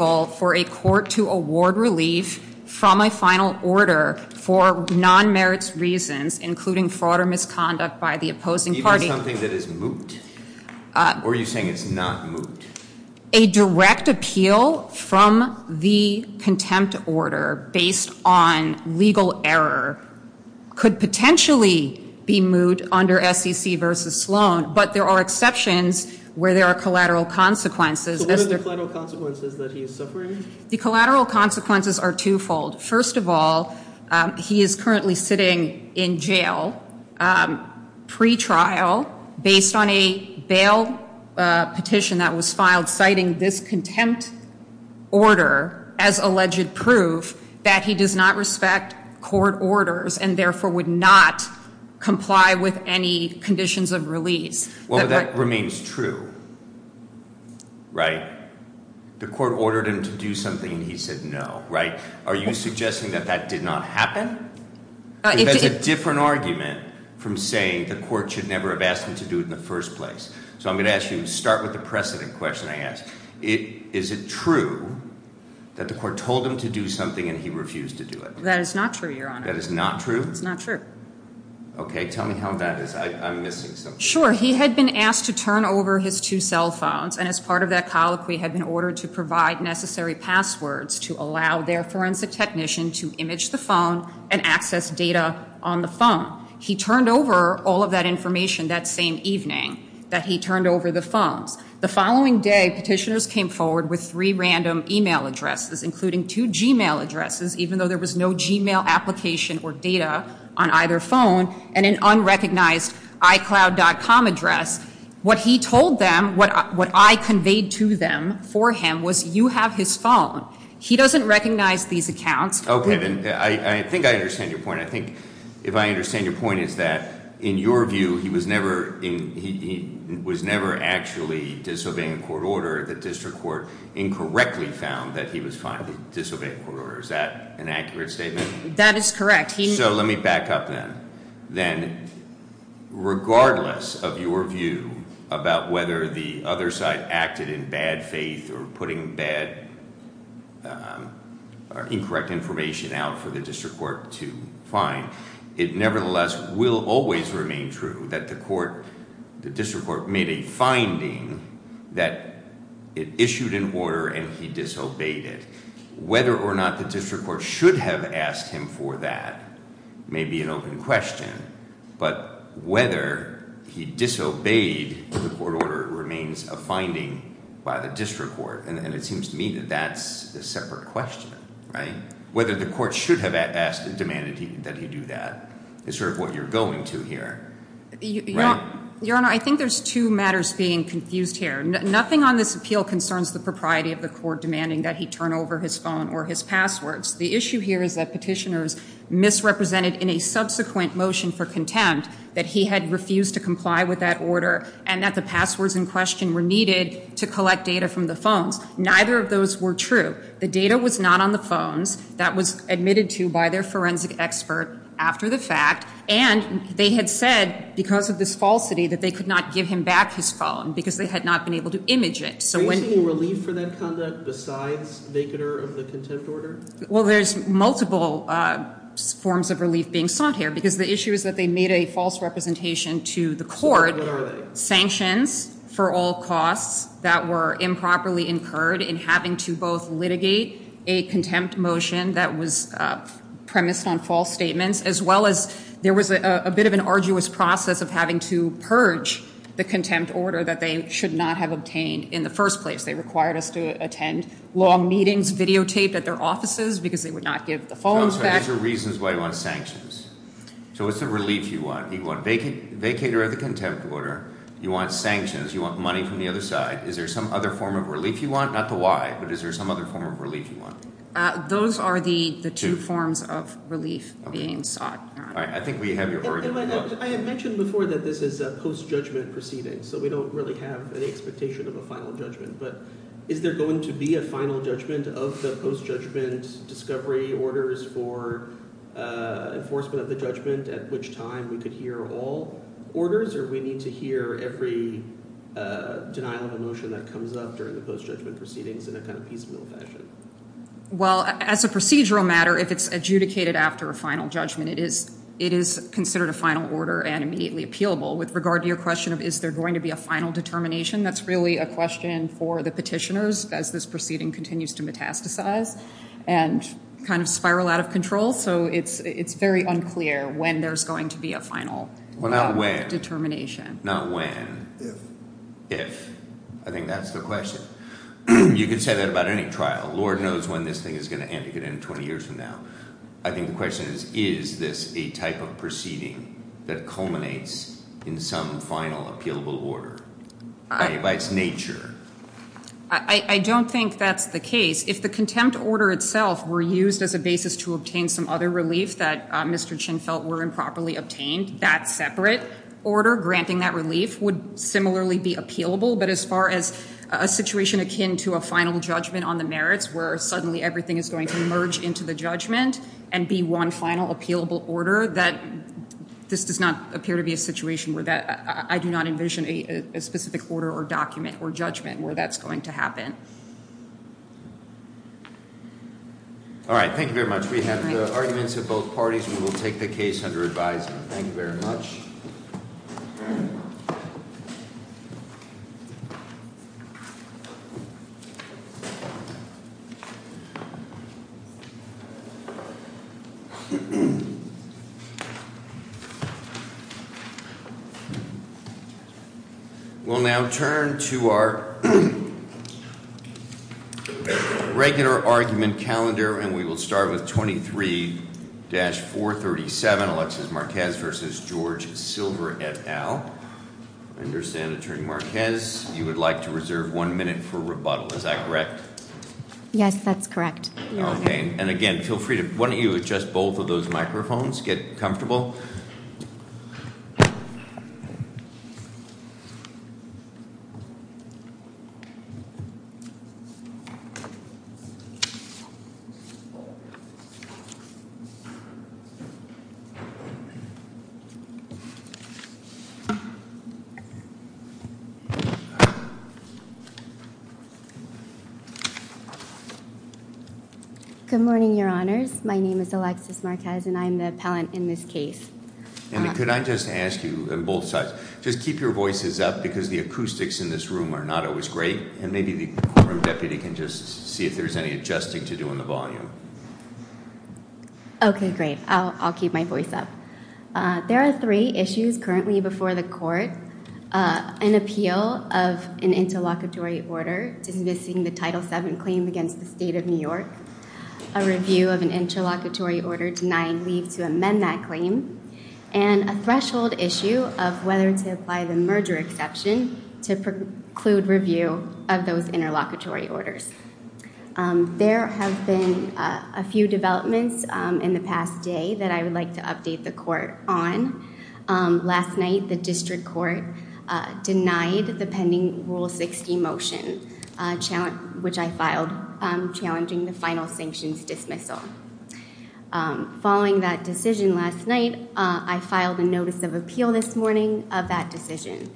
a court to award relief from a final order for non-merits reasons, including fraud or misconduct by the opposing party. Even something that is moot? Or are you saying it's not moot? A direct appeal from the contempt order based on legal error could potentially be moot under SEC v. Sloan, but there are exceptions where there are collateral consequences. So what are the collateral consequences that he is suffering? The collateral consequences are twofold. First of all, he is currently sitting in jail pre-trial based on a bail petition that was filed citing this contempt order as alleged proof that he does not respect court orders and therefore would not comply with any conditions of release. Well, that remains true, right? The court ordered him to do something and he said no, right? Are you suggesting that that did not happen? That's a different argument from saying the court should never have asked him to do it in the first place. So I'm going to ask you to start with the precedent question I asked. Is it true that the court told him to do something and he refused to do it? That is not true, Your Honor. That is not true? That's not true. Okay, tell me how that is. I'm missing something. Sure. He had been asked to turn over his two cell phones and as part of that colloquy had been ordered to provide necessary passwords to allow their forensic technician to image the phone and access data on the phone. He turned over all of that information that same evening that he turned over the phones. The following day, petitioners came forward with three random e-mail addresses, including two g-mail addresses, even though there was no g-mail application or data on either phone, and an unrecognized iCloud.com address. What he told them, what I conveyed to them for him, was you have his phone. He doesn't recognize these accounts. Okay, then I think I understand your point. I think if I understand your point, it's that in your view, he was never actually disobeying court order. The district court incorrectly found that he was finally disobeying court order. Is that an accurate statement? That is correct. So let me back up then. Then regardless of your view about whether the other side acted in bad faith or putting bad or incorrect information out for the district court to find, it nevertheless will always remain true that the court, the district court, made a finding that it issued an order and he disobeyed it. Whether or not the district court should have asked him for that may be an open question, but whether he disobeyed the court order remains a finding by the district court, and it seems to me that that's a separate question, right? Whether the court should have asked and demanded that he do that is sort of what you're going to here, right? Your Honor, I think there's two matters being confused here. Nothing on this appeal concerns the propriety of the court demanding that he turn over his phone or his passwords. The issue here is that petitioners misrepresented in a subsequent motion for contempt that he had refused to comply with that order and that the passwords in question were needed to collect data from the phones. Neither of those were true. The data was not on the phones. That was admitted to by their forensic expert after the fact, and they had said because of this falsity that they could not give him back his phone because they had not been able to image it. Are you seeing relief for that conduct besides vacant of the contempt order? Well, there's multiple forms of relief being sought here because the issue is that they made a false representation to the court. Sanctions for all costs that were improperly incurred in having to both litigate a contempt motion that was premised on false statements as well as there was a bit of an arduous process of having to purge the contempt order that they should not have obtained in the first place. They required us to attend long meetings videotaped at their offices because they would not give the phones back. So what are the reasons why you want sanctions? So what's the relief you want? You want a vacater of the contempt order. You want sanctions. You want money from the other side. Is there some other form of relief you want? Not the why, but is there some other form of relief you want? Those are the two forms of relief being sought. I had mentioned before that this is a post-judgment proceeding, so we don't really have any expectation of a final judgment. But is there going to be a final judgment of the post-judgment discovery orders for enforcement of the judgment at which time we could hear all orders? Or do we need to hear every denial of a motion that comes up during the post-judgment proceedings in a kind of piecemeal fashion? Well, as a procedural matter, if it's adjudicated after a final judgment, it is considered a final order and immediately appealable. With regard to your question of is there going to be a final determination, that's really a question for the petitioners as this proceeding continues to metastasize and kind of spiral out of control. So it's very unclear when there's going to be a final determination. Not when. If. If. I think that's the question. You could say that about any trial. Lord knows when this thing is going to end. It could end 20 years from now. I think the question is, is this a type of proceeding that culminates in some final appealable order by its nature? I don't think that's the case. If the contempt order itself were used as a basis to obtain some other relief that Mr. Chin felt were improperly obtained, that separate order granting that relief would similarly be appealable. But as far as a situation akin to a final judgment on the merits where suddenly everything is going to merge into the judgment and be one final appealable order, this does not appear to be a situation where I do not envision a specific order or document or judgment where that's going to happen. All right. Thank you very much. We have the arguments of both parties. We will take the case under advisement. Thank you very much. We'll now turn to our regular argument calendar, and we will start with 23-437, Alexis Marquez versus George Silver et al. I understand, Attorney Marquez, you would like to reserve one minute for rebuttal. Is that correct? Yes, that's correct. And again, feel free to adjust both of those microphones, get comfortable. Good morning, Your Honors. My name is Alexis Marquez, and I'm the appellant in this case. And could I just ask you on both sides, just keep your voices up because the acoustics in this room are not always great, and maybe the courtroom deputy can just see if there's any adjusting to do on the volume. Okay, great. I'll keep my voice up. There are three issues currently before the court, an appeal of an interlocutory order dismissing the Title VII claim against the State of New York, a review of an interlocutory order denying leave to amend that claim, and a threshold issue of whether to apply the merger exception to preclude review of those interlocutory orders. There have been a few developments in the past day that I would like to update the court on. Last night, the district court denied the pending Rule 60 motion, which I filed, challenging the final sanctions dismissal. Following that decision last night, I filed a notice of appeal this morning of that decision.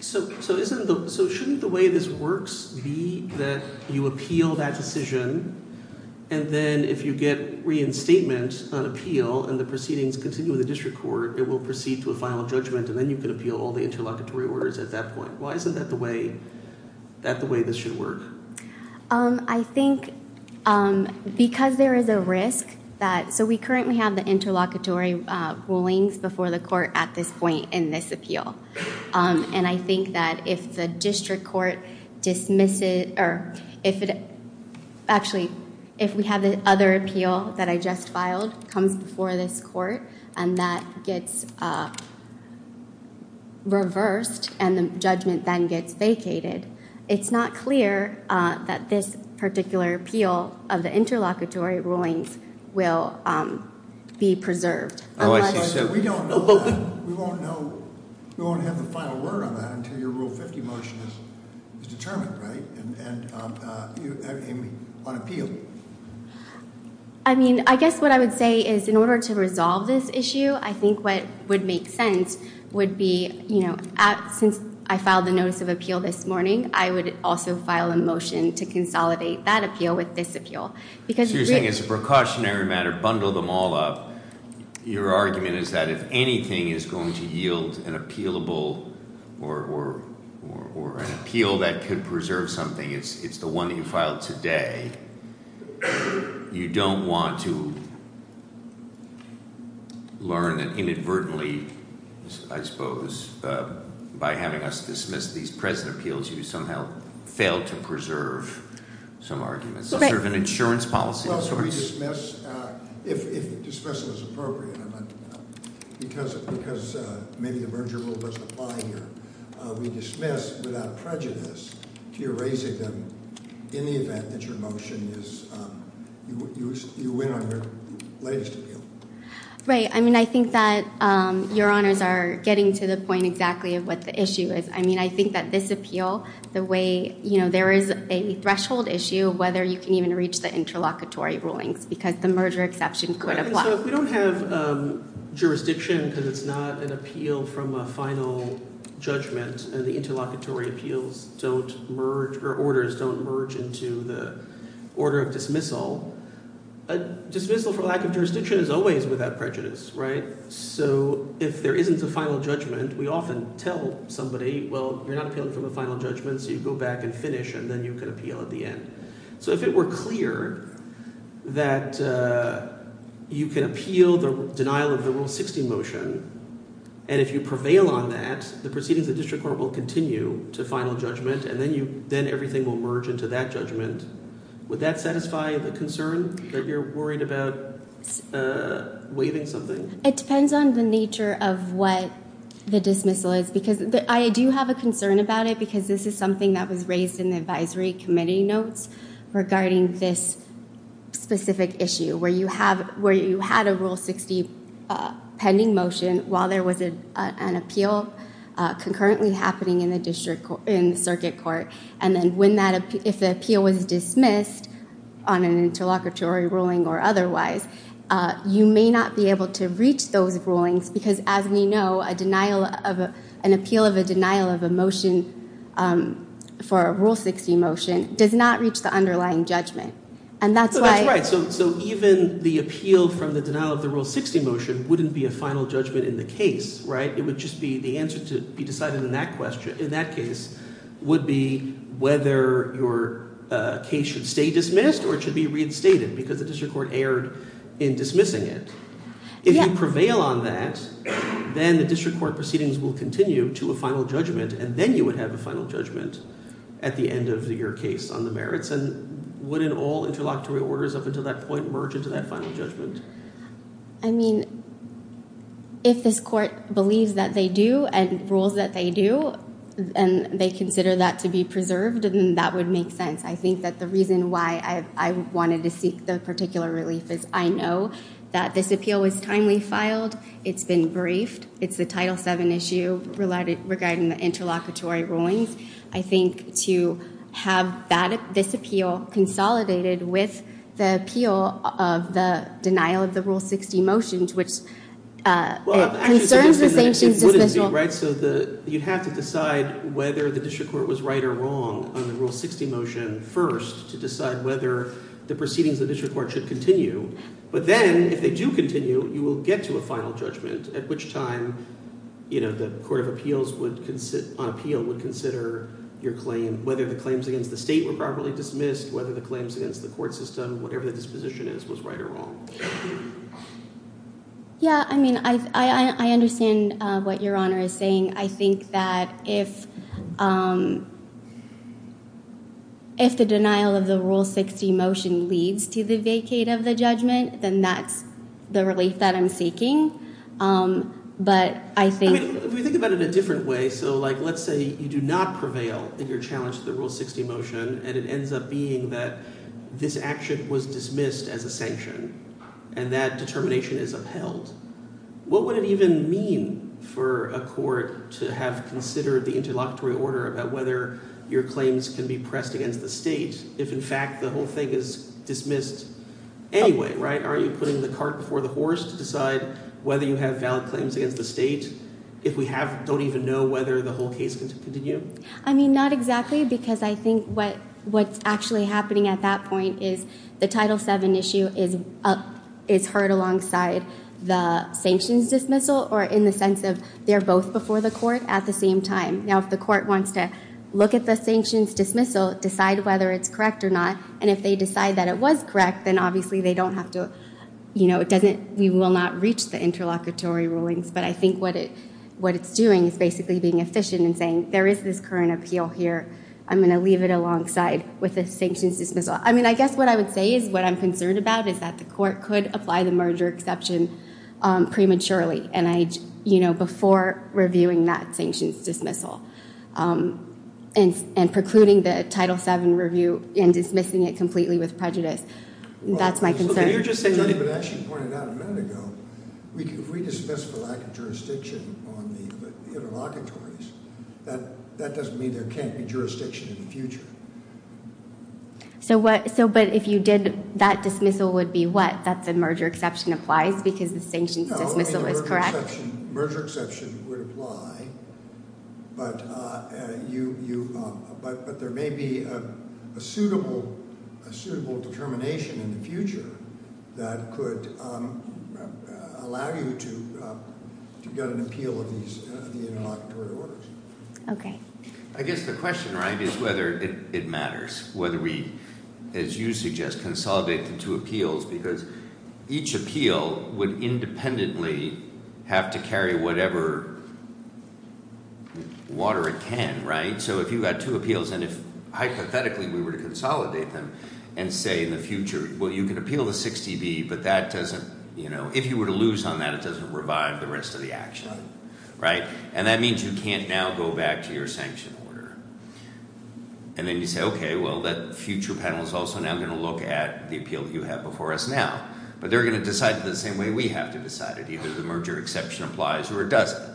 So shouldn't the way this works be that you appeal that decision, and then if you get reinstatement on appeal and the proceedings continue with the district court, it will proceed to a final judgment, and then you can appeal all the interlocutory orders at that point? Why isn't that the way this should work? I think because there is a risk that—so we currently have the interlocutory rulings before the court at this point in this appeal. And I think that if the district court dismisses—actually, if we have the other appeal that I just filed comes before this court, and that gets reversed and the judgment then gets vacated, it's not clear that this particular appeal of the interlocutory rulings will be preserved. Oh, I see. We won't have the final word on that until your Rule 50 motion is determined, right, on appeal. I mean, I guess what I would say is in order to resolve this issue, I think what would make sense would be, you know, since I filed the notice of appeal this morning, I would also file a motion to consolidate that appeal with this appeal. So you're saying as a precautionary matter, bundle them all up. Your argument is that if anything is going to yield an appealable or an appeal that could preserve something, it's the one that you filed today, you don't want to learn that inadvertently, I suppose, by having us dismiss these present appeals, you somehow fail to preserve some arguments. It's sort of an insurance policy of sorts. We dismiss, if dismissal is appropriate, because maybe the Berger rule doesn't apply here, we dismiss without prejudice to erasing them in the event that your motion is, you win on your latest appeal. Right. I mean, I think that Your Honors are getting to the point exactly of what the issue is. I mean, I think that this appeal, the way, you know, there is a threshold issue whether you can even reach the interlocutory rulings because the merger exception could apply. So if we don't have jurisdiction because it's not an appeal from a final judgment and the interlocutory appeals don't merge or orders don't merge into the order of dismissal, a dismissal for lack of jurisdiction is always without prejudice, right? So if there isn't a final judgment, we often tell somebody, well, you're not appealing from a final judgment, so you go back and finish and then you can appeal at the end. So if it were clear that you can appeal the denial of the Rule 60 motion and if you prevail on that, the proceedings of the district court will continue to final judgment and then everything will merge into that judgment. Would that satisfy the concern that you're worried about waiving something? It depends on the nature of what the dismissal is because I do have a concern about it because this is something that was raised in the advisory committee notes regarding this specific issue where you had a Rule 60 pending motion while there was an appeal concurrently happening in the circuit court and then if the appeal was dismissed on an interlocutory ruling or otherwise, you may not be able to reach those rulings because, as we know, an appeal of a denial of a motion for a Rule 60 motion does not reach the underlying judgment. That's right. So even the appeal from the denial of the Rule 60 motion wouldn't be a final judgment in the case, right? It would just be the answer to be decided in that case would be whether your case should stay dismissed or it should be reinstated because the district court erred in dismissing it. If you prevail on that, then the district court proceedings will continue to a final judgment and then you would have a final judgment at the end of your case on the merits and wouldn't all interlocutory orders up until that point merge into that final judgment? I mean, if this court believes that they do and rules that they do and they consider that to be preserved, then that would make sense. I think that the reason why I wanted to seek the particular relief is I know that this appeal was timely filed, it's been briefed, it's the Title VII issue regarding the interlocutory rulings. I think to have this appeal consolidated with the appeal of the denial of the Rule 60 motions, which concerns the sanctions dismissal. So you'd have to decide whether the district court was right or wrong on the Rule 60 motion first to decide whether the proceedings of the district court should continue. But then if they do continue, you will get to a final judgment at which time the court of appeals would consider your claim, whether the claims against the state were properly dismissed, whether the claims against the court system, Yeah, I mean, I understand what Your Honor is saying. I think that if the denial of the Rule 60 motion leads to the vacate of the judgment, then that's the relief that I'm seeking. But I think... If we think about it in a different way, so like let's say you do not prevail in your challenge to the Rule 60 motion and it ends up being that this action was dismissed as a sanction and that determination is upheld. What would it even mean for a court to have considered the interlocutory order about whether your claims can be pressed against the state if in fact the whole thing is dismissed anyway, right? Are you putting the cart before the horse to decide whether you have valid claims against the state if we don't even know whether the whole case can continue? I mean, not exactly because I think what's actually happening at that point is the Title VII issue is heard alongside the sanctions dismissal or in the sense of they're both before the court at the same time. Now if the court wants to look at the sanctions dismissal, decide whether it's correct or not, and if they decide that it was correct, then obviously they don't have to, you know, it doesn't, we will not reach the interlocutory rulings. But I think what it's doing is basically being efficient and saying there is this current appeal here. I'm going to leave it alongside with the sanctions dismissal. I mean, I guess what I would say is what I'm concerned about is that the court could apply the merger exception prematurely before reviewing that sanctions dismissal and precluding the Title VII review and dismissing it completely with prejudice. That's my concern. As you pointed out a minute ago, if we dismiss for lack of jurisdiction on the interlocutories, that doesn't mean there can't be jurisdiction in the future. But if you did, that dismissal would be what? That the merger exception applies because the sanctions dismissal is correct? The merger exception would apply, but there may be a suitable determination in the future that could allow you to get an appeal of these interlocutory orders. Okay. I guess the question, right, is whether it matters, whether we, as you suggest, consolidate the two appeals, because each appeal would independently have to carry whatever water it can, right? So if you had two appeals and if hypothetically we were to consolidate them and say in the future, well, you can appeal the 60B, but that doesn't, you know, if you were to lose on that, it doesn't revive the rest of the action, right? And that means you can't now go back to your sanction order. And then you say, okay, well, that future panel is also now going to look at the appeal you have before us now, but they're going to decide it the same way we have to decide it. Either the merger exception applies or it doesn't.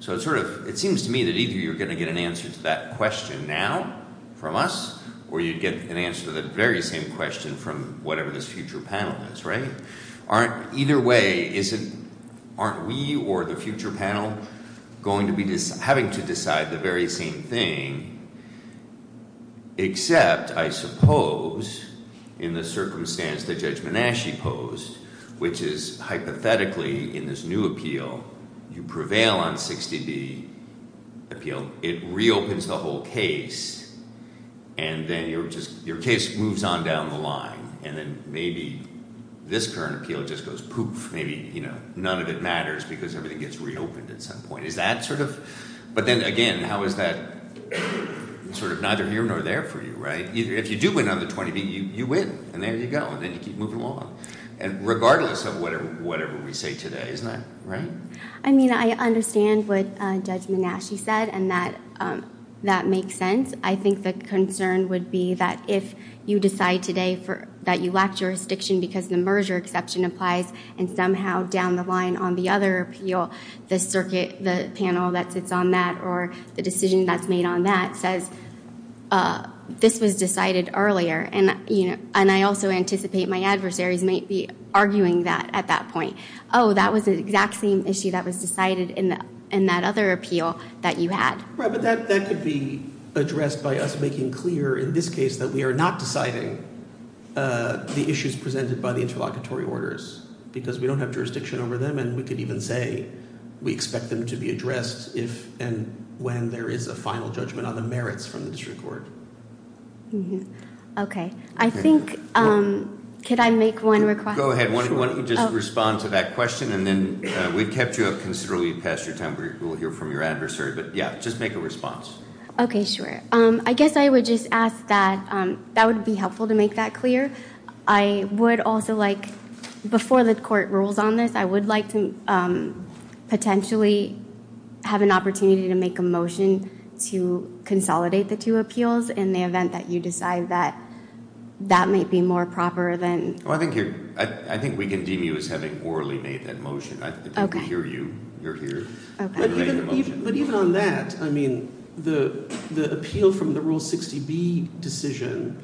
So it sort of, it seems to me that either you're going to get an answer to that question now from us or you'd get an answer to the very same question from whatever this future panel is, right? Either way, isn't, aren't we or the future panel going to be, having to decide the very same thing? Except, I suppose, in the circumstance that Judge Menasche posed, which is hypothetically in this new appeal, you prevail on 60B appeal, it reopens the whole case, and then you're just, your case moves on down the line. And then maybe this current appeal just goes poof. Maybe, you know, none of it matters because everything gets reopened at some point. Is that sort of, but then again, how is that sort of neither here nor there for you, right? If you do win on the 20B, you win, and there you go, and then you keep moving along. And regardless of whatever we say today, isn't that right? I mean, I understand what Judge Menasche said and that that makes sense. I think the concern would be that if you decide today that you lack jurisdiction because the merger exception applies and somehow down the line on the other appeal, the circuit, the panel that sits on that or the decision that's made on that says, this was decided earlier. And I also anticipate my adversaries might be arguing that at that point. Oh, that was the exact same issue that was decided in that other appeal that you had. Right, but that could be addressed by us making clear in this case that we are not deciding the issues presented by the interlocutory orders because we don't have jurisdiction over them, and we could even say we expect them to be addressed if and when there is a final judgment on the merits from the district court. Okay. I think, could I make one request? Go ahead. Why don't you just respond to that question, and then we've kept you up considerably past your time. We'll hear from your adversary, but, yeah, just make a response. Okay, sure. I guess I would just ask that that would be helpful to make that clear. I would also like, before the court rules on this, I would like to potentially have an opportunity to make a motion to consolidate the two appeals in the event that you decide that that might be more proper than I think we can deem you as having orally made that motion. I think we hear you. You're here. But even on that, I mean, the appeal from the Rule 60B decision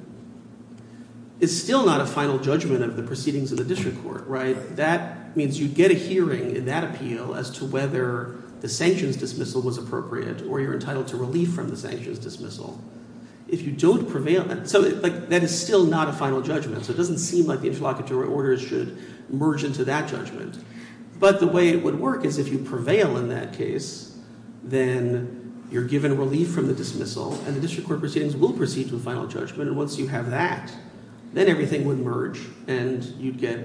is still not a final judgment of the proceedings of the district court, right? That means you get a hearing in that appeal as to whether the sanctions dismissal was appropriate or you're entitled to relief from the sanctions dismissal. If you don't prevail, that is still not a final judgment, so it doesn't seem like the interlocutory orders should merge into that judgment. But the way it would work is if you prevail in that case, then you're given relief from the dismissal, and the district court proceedings will proceed to a final judgment. And once you have that, then everything would merge, and you'd get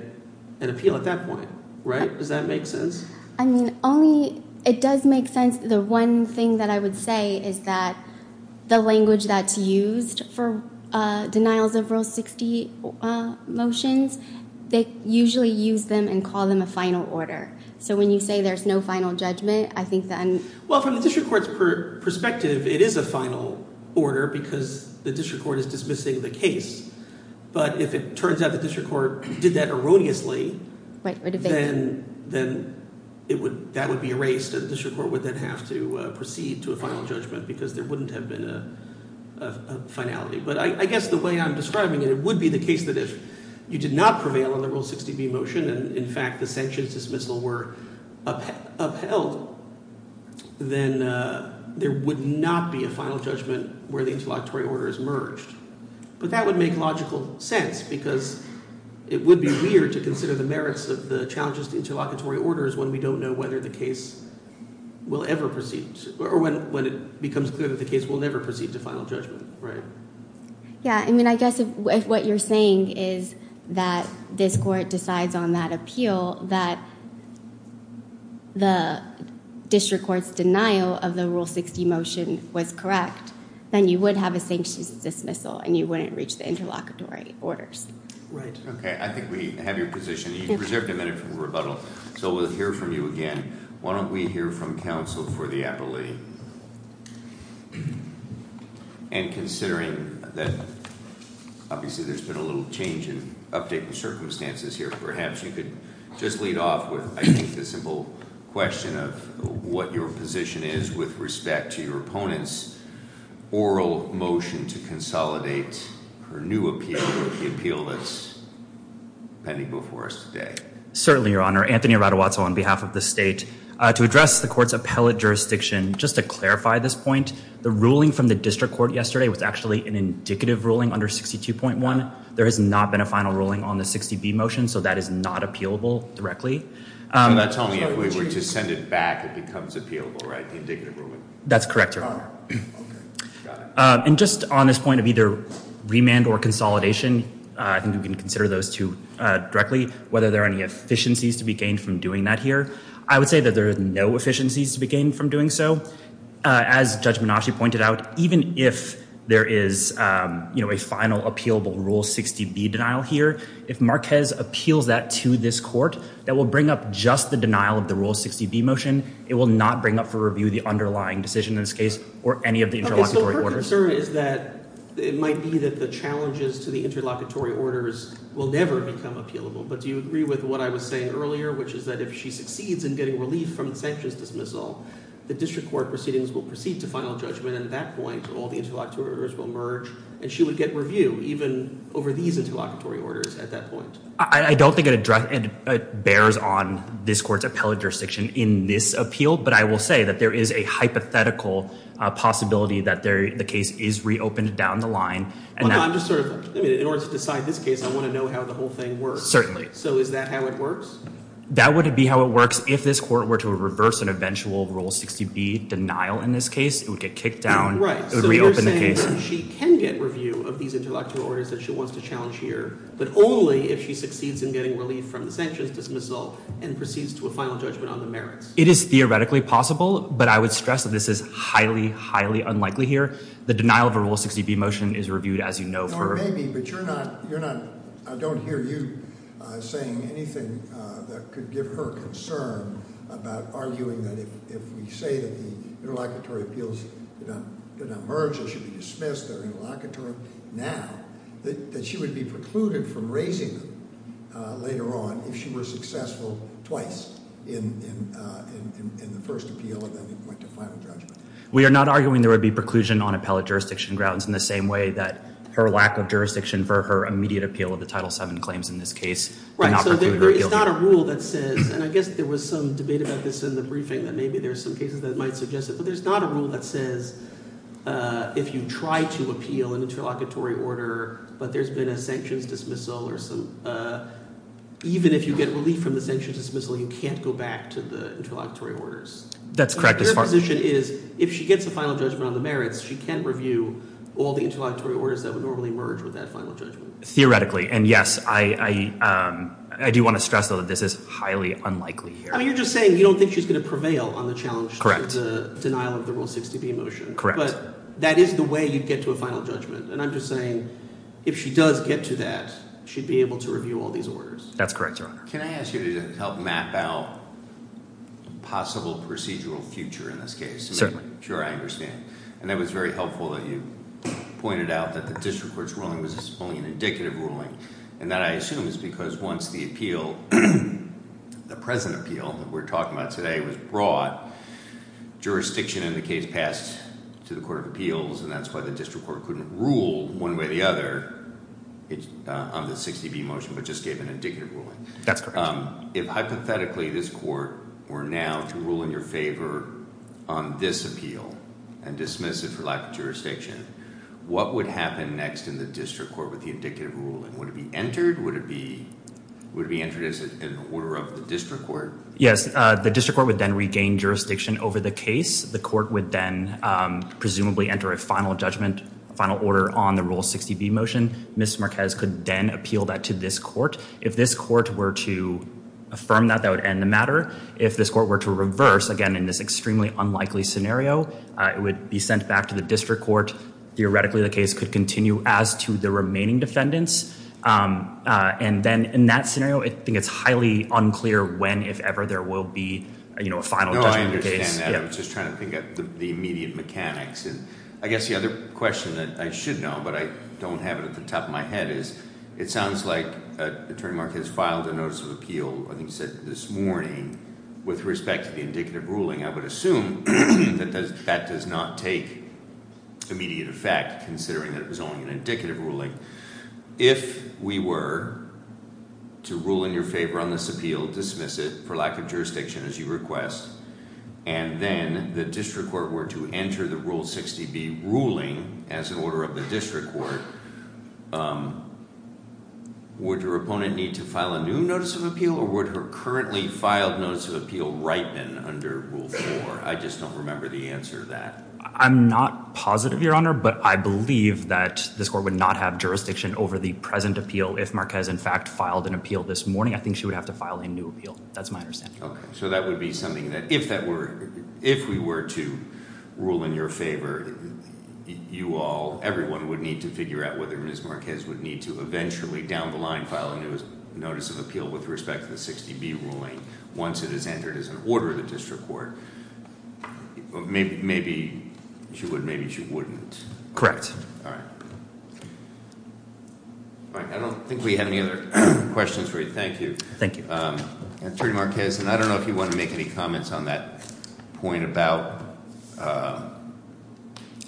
an appeal at that point, right? Does that make sense? I mean, only – it does make sense. The one thing that I would say is that the language that's used for denials of Rule 60 motions, they usually use them and call them a final order. So when you say there's no final judgment, I think that – Well, from the district court's perspective, it is a final order because the district court is dismissing the case. But if it turns out the district court did that erroneously, then that would be erased, and the district court would then have to proceed to a final judgment because there wouldn't have been a finality. But I guess the way I'm describing it, it would be the case that if you did not prevail on the Rule 60b motion and, in fact, the sanctions dismissal were upheld, then there would not be a final judgment where the interlocutory order is merged. But that would make logical sense because it would be weird to consider the merits of the challenges to interlocutory orders when we don't know whether the case will ever proceed – or when it becomes clear that the case will never proceed to final judgment, right? Yeah. I mean I guess if what you're saying is that this court decides on that appeal, that the district court's denial of the Rule 60 motion was correct, then you would have a sanctions dismissal and you wouldn't reach the interlocutory orders. Right. Okay. I think we have your position. You've reserved a minute for rebuttal, so we'll hear from you again. Why don't we hear from counsel for the appellee? And considering that obviously there's been a little change in uptick in circumstances here, perhaps you could just lead off with, I think, the simple question of what your position is with respect to your opponent's oral motion to consolidate her new appeal, the appeal that's pending before us today. Certainly, Your Honor. Anthony Arrada-Watzell on behalf of the state. To address the court's appellate jurisdiction, just to clarify this point, the ruling from the district court yesterday was actually an indicative ruling under 62.1. There has not been a final ruling on the 60B motion, so that is not appealable directly. You're not telling me if we were to send it back, it becomes appealable, right, the indicative ruling? That's correct, Your Honor. And just on this point of either remand or consolidation, I think we can consider those two directly, whether there are any efficiencies to be gained from doing that here. I would say that there are no efficiencies to be gained from doing so. As Judge Minocci pointed out, even if there is a final appealable Rule 60B denial here, if Marquez appeals that to this court, that will bring up just the denial of the Rule 60B motion. It will not bring up for review the underlying decision in this case or any of the interlocutory orders. Okay, so her concern is that it might be that the challenges to the interlocutory orders will never become appealable. But do you agree with what I was saying earlier, which is that if she succeeds in getting relief from the sanctions dismissal, the district court proceedings will proceed to final judgment, and at that point all the interlocutory orders will merge, and she would get review even over these interlocutory orders at that point? I don't think it bears on this court's appellate jurisdiction in this appeal, but I will say that there is a hypothetical possibility that the case is reopened down the line. In order to decide this case, I want to know how the whole thing works. Certainly. So is that how it works? That would be how it works if this court were to reverse an eventual Rule 60B denial in this case. It would get kicked down. Right. It would reopen the case. So you're saying that she can get review of these interlocutory orders that she wants to challenge here, but only if she succeeds in getting relief from the sanctions dismissal and proceeds to a final judgment on the merits? It is theoretically possible, but I would stress that this is highly, highly unlikely here. The denial of a Rule 60B motion is reviewed, as you know. I don't hear you saying anything that could give her concern about arguing that if we say that the interlocutory appeals did not merge, they should be dismissed, they're interlocutory now, that she would be precluded from raising them later on if she were successful twice in the first appeal and then went to final judgment. We are not arguing there would be preclusion on appellate jurisdiction grounds in the same way that her lack of jurisdiction for her immediate appeal of the Title VII claims in this case. Right. So there is not a rule that says, and I guess there was some debate about this in the briefing, that maybe there are some cases that might suggest it, but there's not a rule that says if you try to appeal an interlocutory order but there's been a sanctions dismissal, even if you get relief from the sanctions dismissal, you can't go back to the interlocutory orders. That's correct. Her position is if she gets a final judgment on the merits, she can review all the interlocutory orders that would normally merge with that final judgment. Theoretically, and yes, I do want to stress, though, that this is highly unlikely here. I mean, you're just saying you don't think she's going to prevail on the challenge to the denial of the Rule 60B motion. Correct. But that is the way you'd get to a final judgment, and I'm just saying if she does get to that, she'd be able to review all these orders. That's correct, Your Honor. Can I ask you to help map out possible procedural future in this case? Certainly. Sure, I understand. And it was very helpful that you pointed out that the district court's ruling was only an indicative ruling, and that I assume is because once the appeal, the present appeal that we're talking about today was brought, jurisdiction in the case passed to the Court of Appeals, and that's why the district court couldn't rule one way or the other on the 60B motion, but just gave an indicative ruling. That's correct. If hypothetically this court were now to rule in your favor on this appeal and dismiss it for lack of jurisdiction, what would happen next in the district court with the indicative ruling? Would it be entered? Would it be entered as an order of the district court? Yes, the district court would then regain jurisdiction over the case. The court would then presumably enter a final judgment, a final order on the Rule 60B motion. Ms. Marquez could then appeal that to this court. If this court were to affirm that, that would end the matter. If this court were to reverse, again, in this extremely unlikely scenario, it would be sent back to the district court. Theoretically, the case could continue as to the remaining defendants. And then in that scenario, I think it's highly unclear when, if ever, there will be a final judgment of the case. No, I understand that. I was just trying to think of the immediate mechanics. And I guess the other question that I should know, but I don't have it at the top of my head, is it sounds like Attorney Marquez filed a notice of appeal, I think he said this morning, with respect to the indicative ruling. I would assume that that does not take immediate effect considering that it was only an indicative ruling. If we were to rule in your favor on this appeal, dismiss it for lack of jurisdiction, as you request, and then the district court were to enter the Rule 60B ruling as an order of the district court, would your opponent need to file a new notice of appeal, or would her currently filed notice of appeal ripen under Rule 4? I just don't remember the answer to that. I'm not positive, Your Honor, but I believe that this court would not have jurisdiction over the present appeal. If Marquez, in fact, filed an appeal this morning, I think she would have to file a new appeal. That's my understanding. Okay, so that would be something that if we were to rule in your favor, you all, everyone would need to figure out whether Ms. Marquez would need to eventually down the line file a new notice of appeal with respect to the 60B ruling once it is entered as an order of the district court. Maybe she would, maybe she wouldn't. Correct. All right. All right, I don't think we have any other questions for you. Thank you. Thank you. Attorney Marquez, and I don't know if you want to make any comments on that point about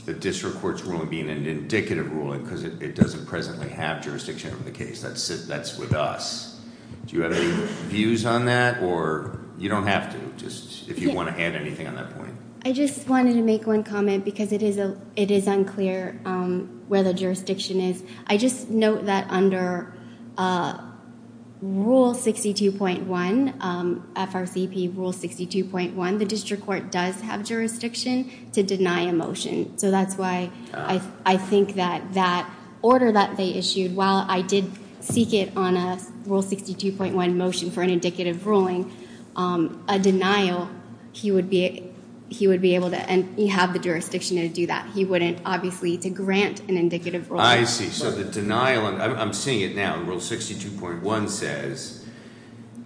the district court's ruling being an indicative ruling because it doesn't presently have jurisdiction over the case. That's with us. Do you have any views on that? Or you don't have to, just if you want to add anything on that point. I just wanted to make one comment because it is unclear where the jurisdiction is. I just note that under Rule 62.1, FRCP Rule 62.1, the district court does have jurisdiction to deny a motion. So that's why I think that that order that they issued, while I did seek it on a Rule 62.1 motion for an indicative ruling, a denial, he would be able to have the jurisdiction to do that. He wouldn't, obviously, to grant an indicative ruling. I see. So the denial, I'm seeing it now. Rule 62.1 says,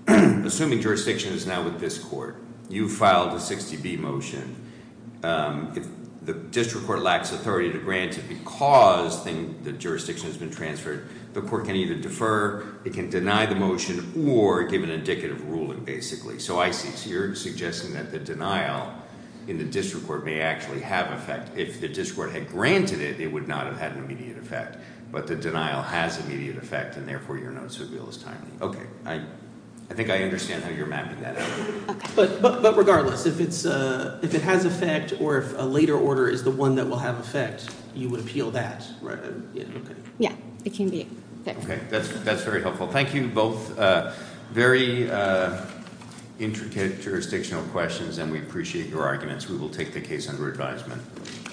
assuming jurisdiction is now with this court, you filed a 60B motion. If the district court lacks authority to grant it because the jurisdiction has been transferred, the court can either defer, it can deny the motion, or give an indicative ruling, basically. So I see. So you're suggesting that the denial in the district court may actually have effect. If the district court had granted it, it would not have had an immediate effect. But the denial has immediate effect, and therefore your notice of appeal is timely. Okay. I think I understand how you're mapping that out. Okay. But regardless, if it has effect or if a later order is the one that will have effect, you would appeal that. Right. Okay. Yeah. It can be. Okay. That's very helpful. Thank you both. Very intricate jurisdictional questions, and we appreciate your arguments. We will take the case under advisement.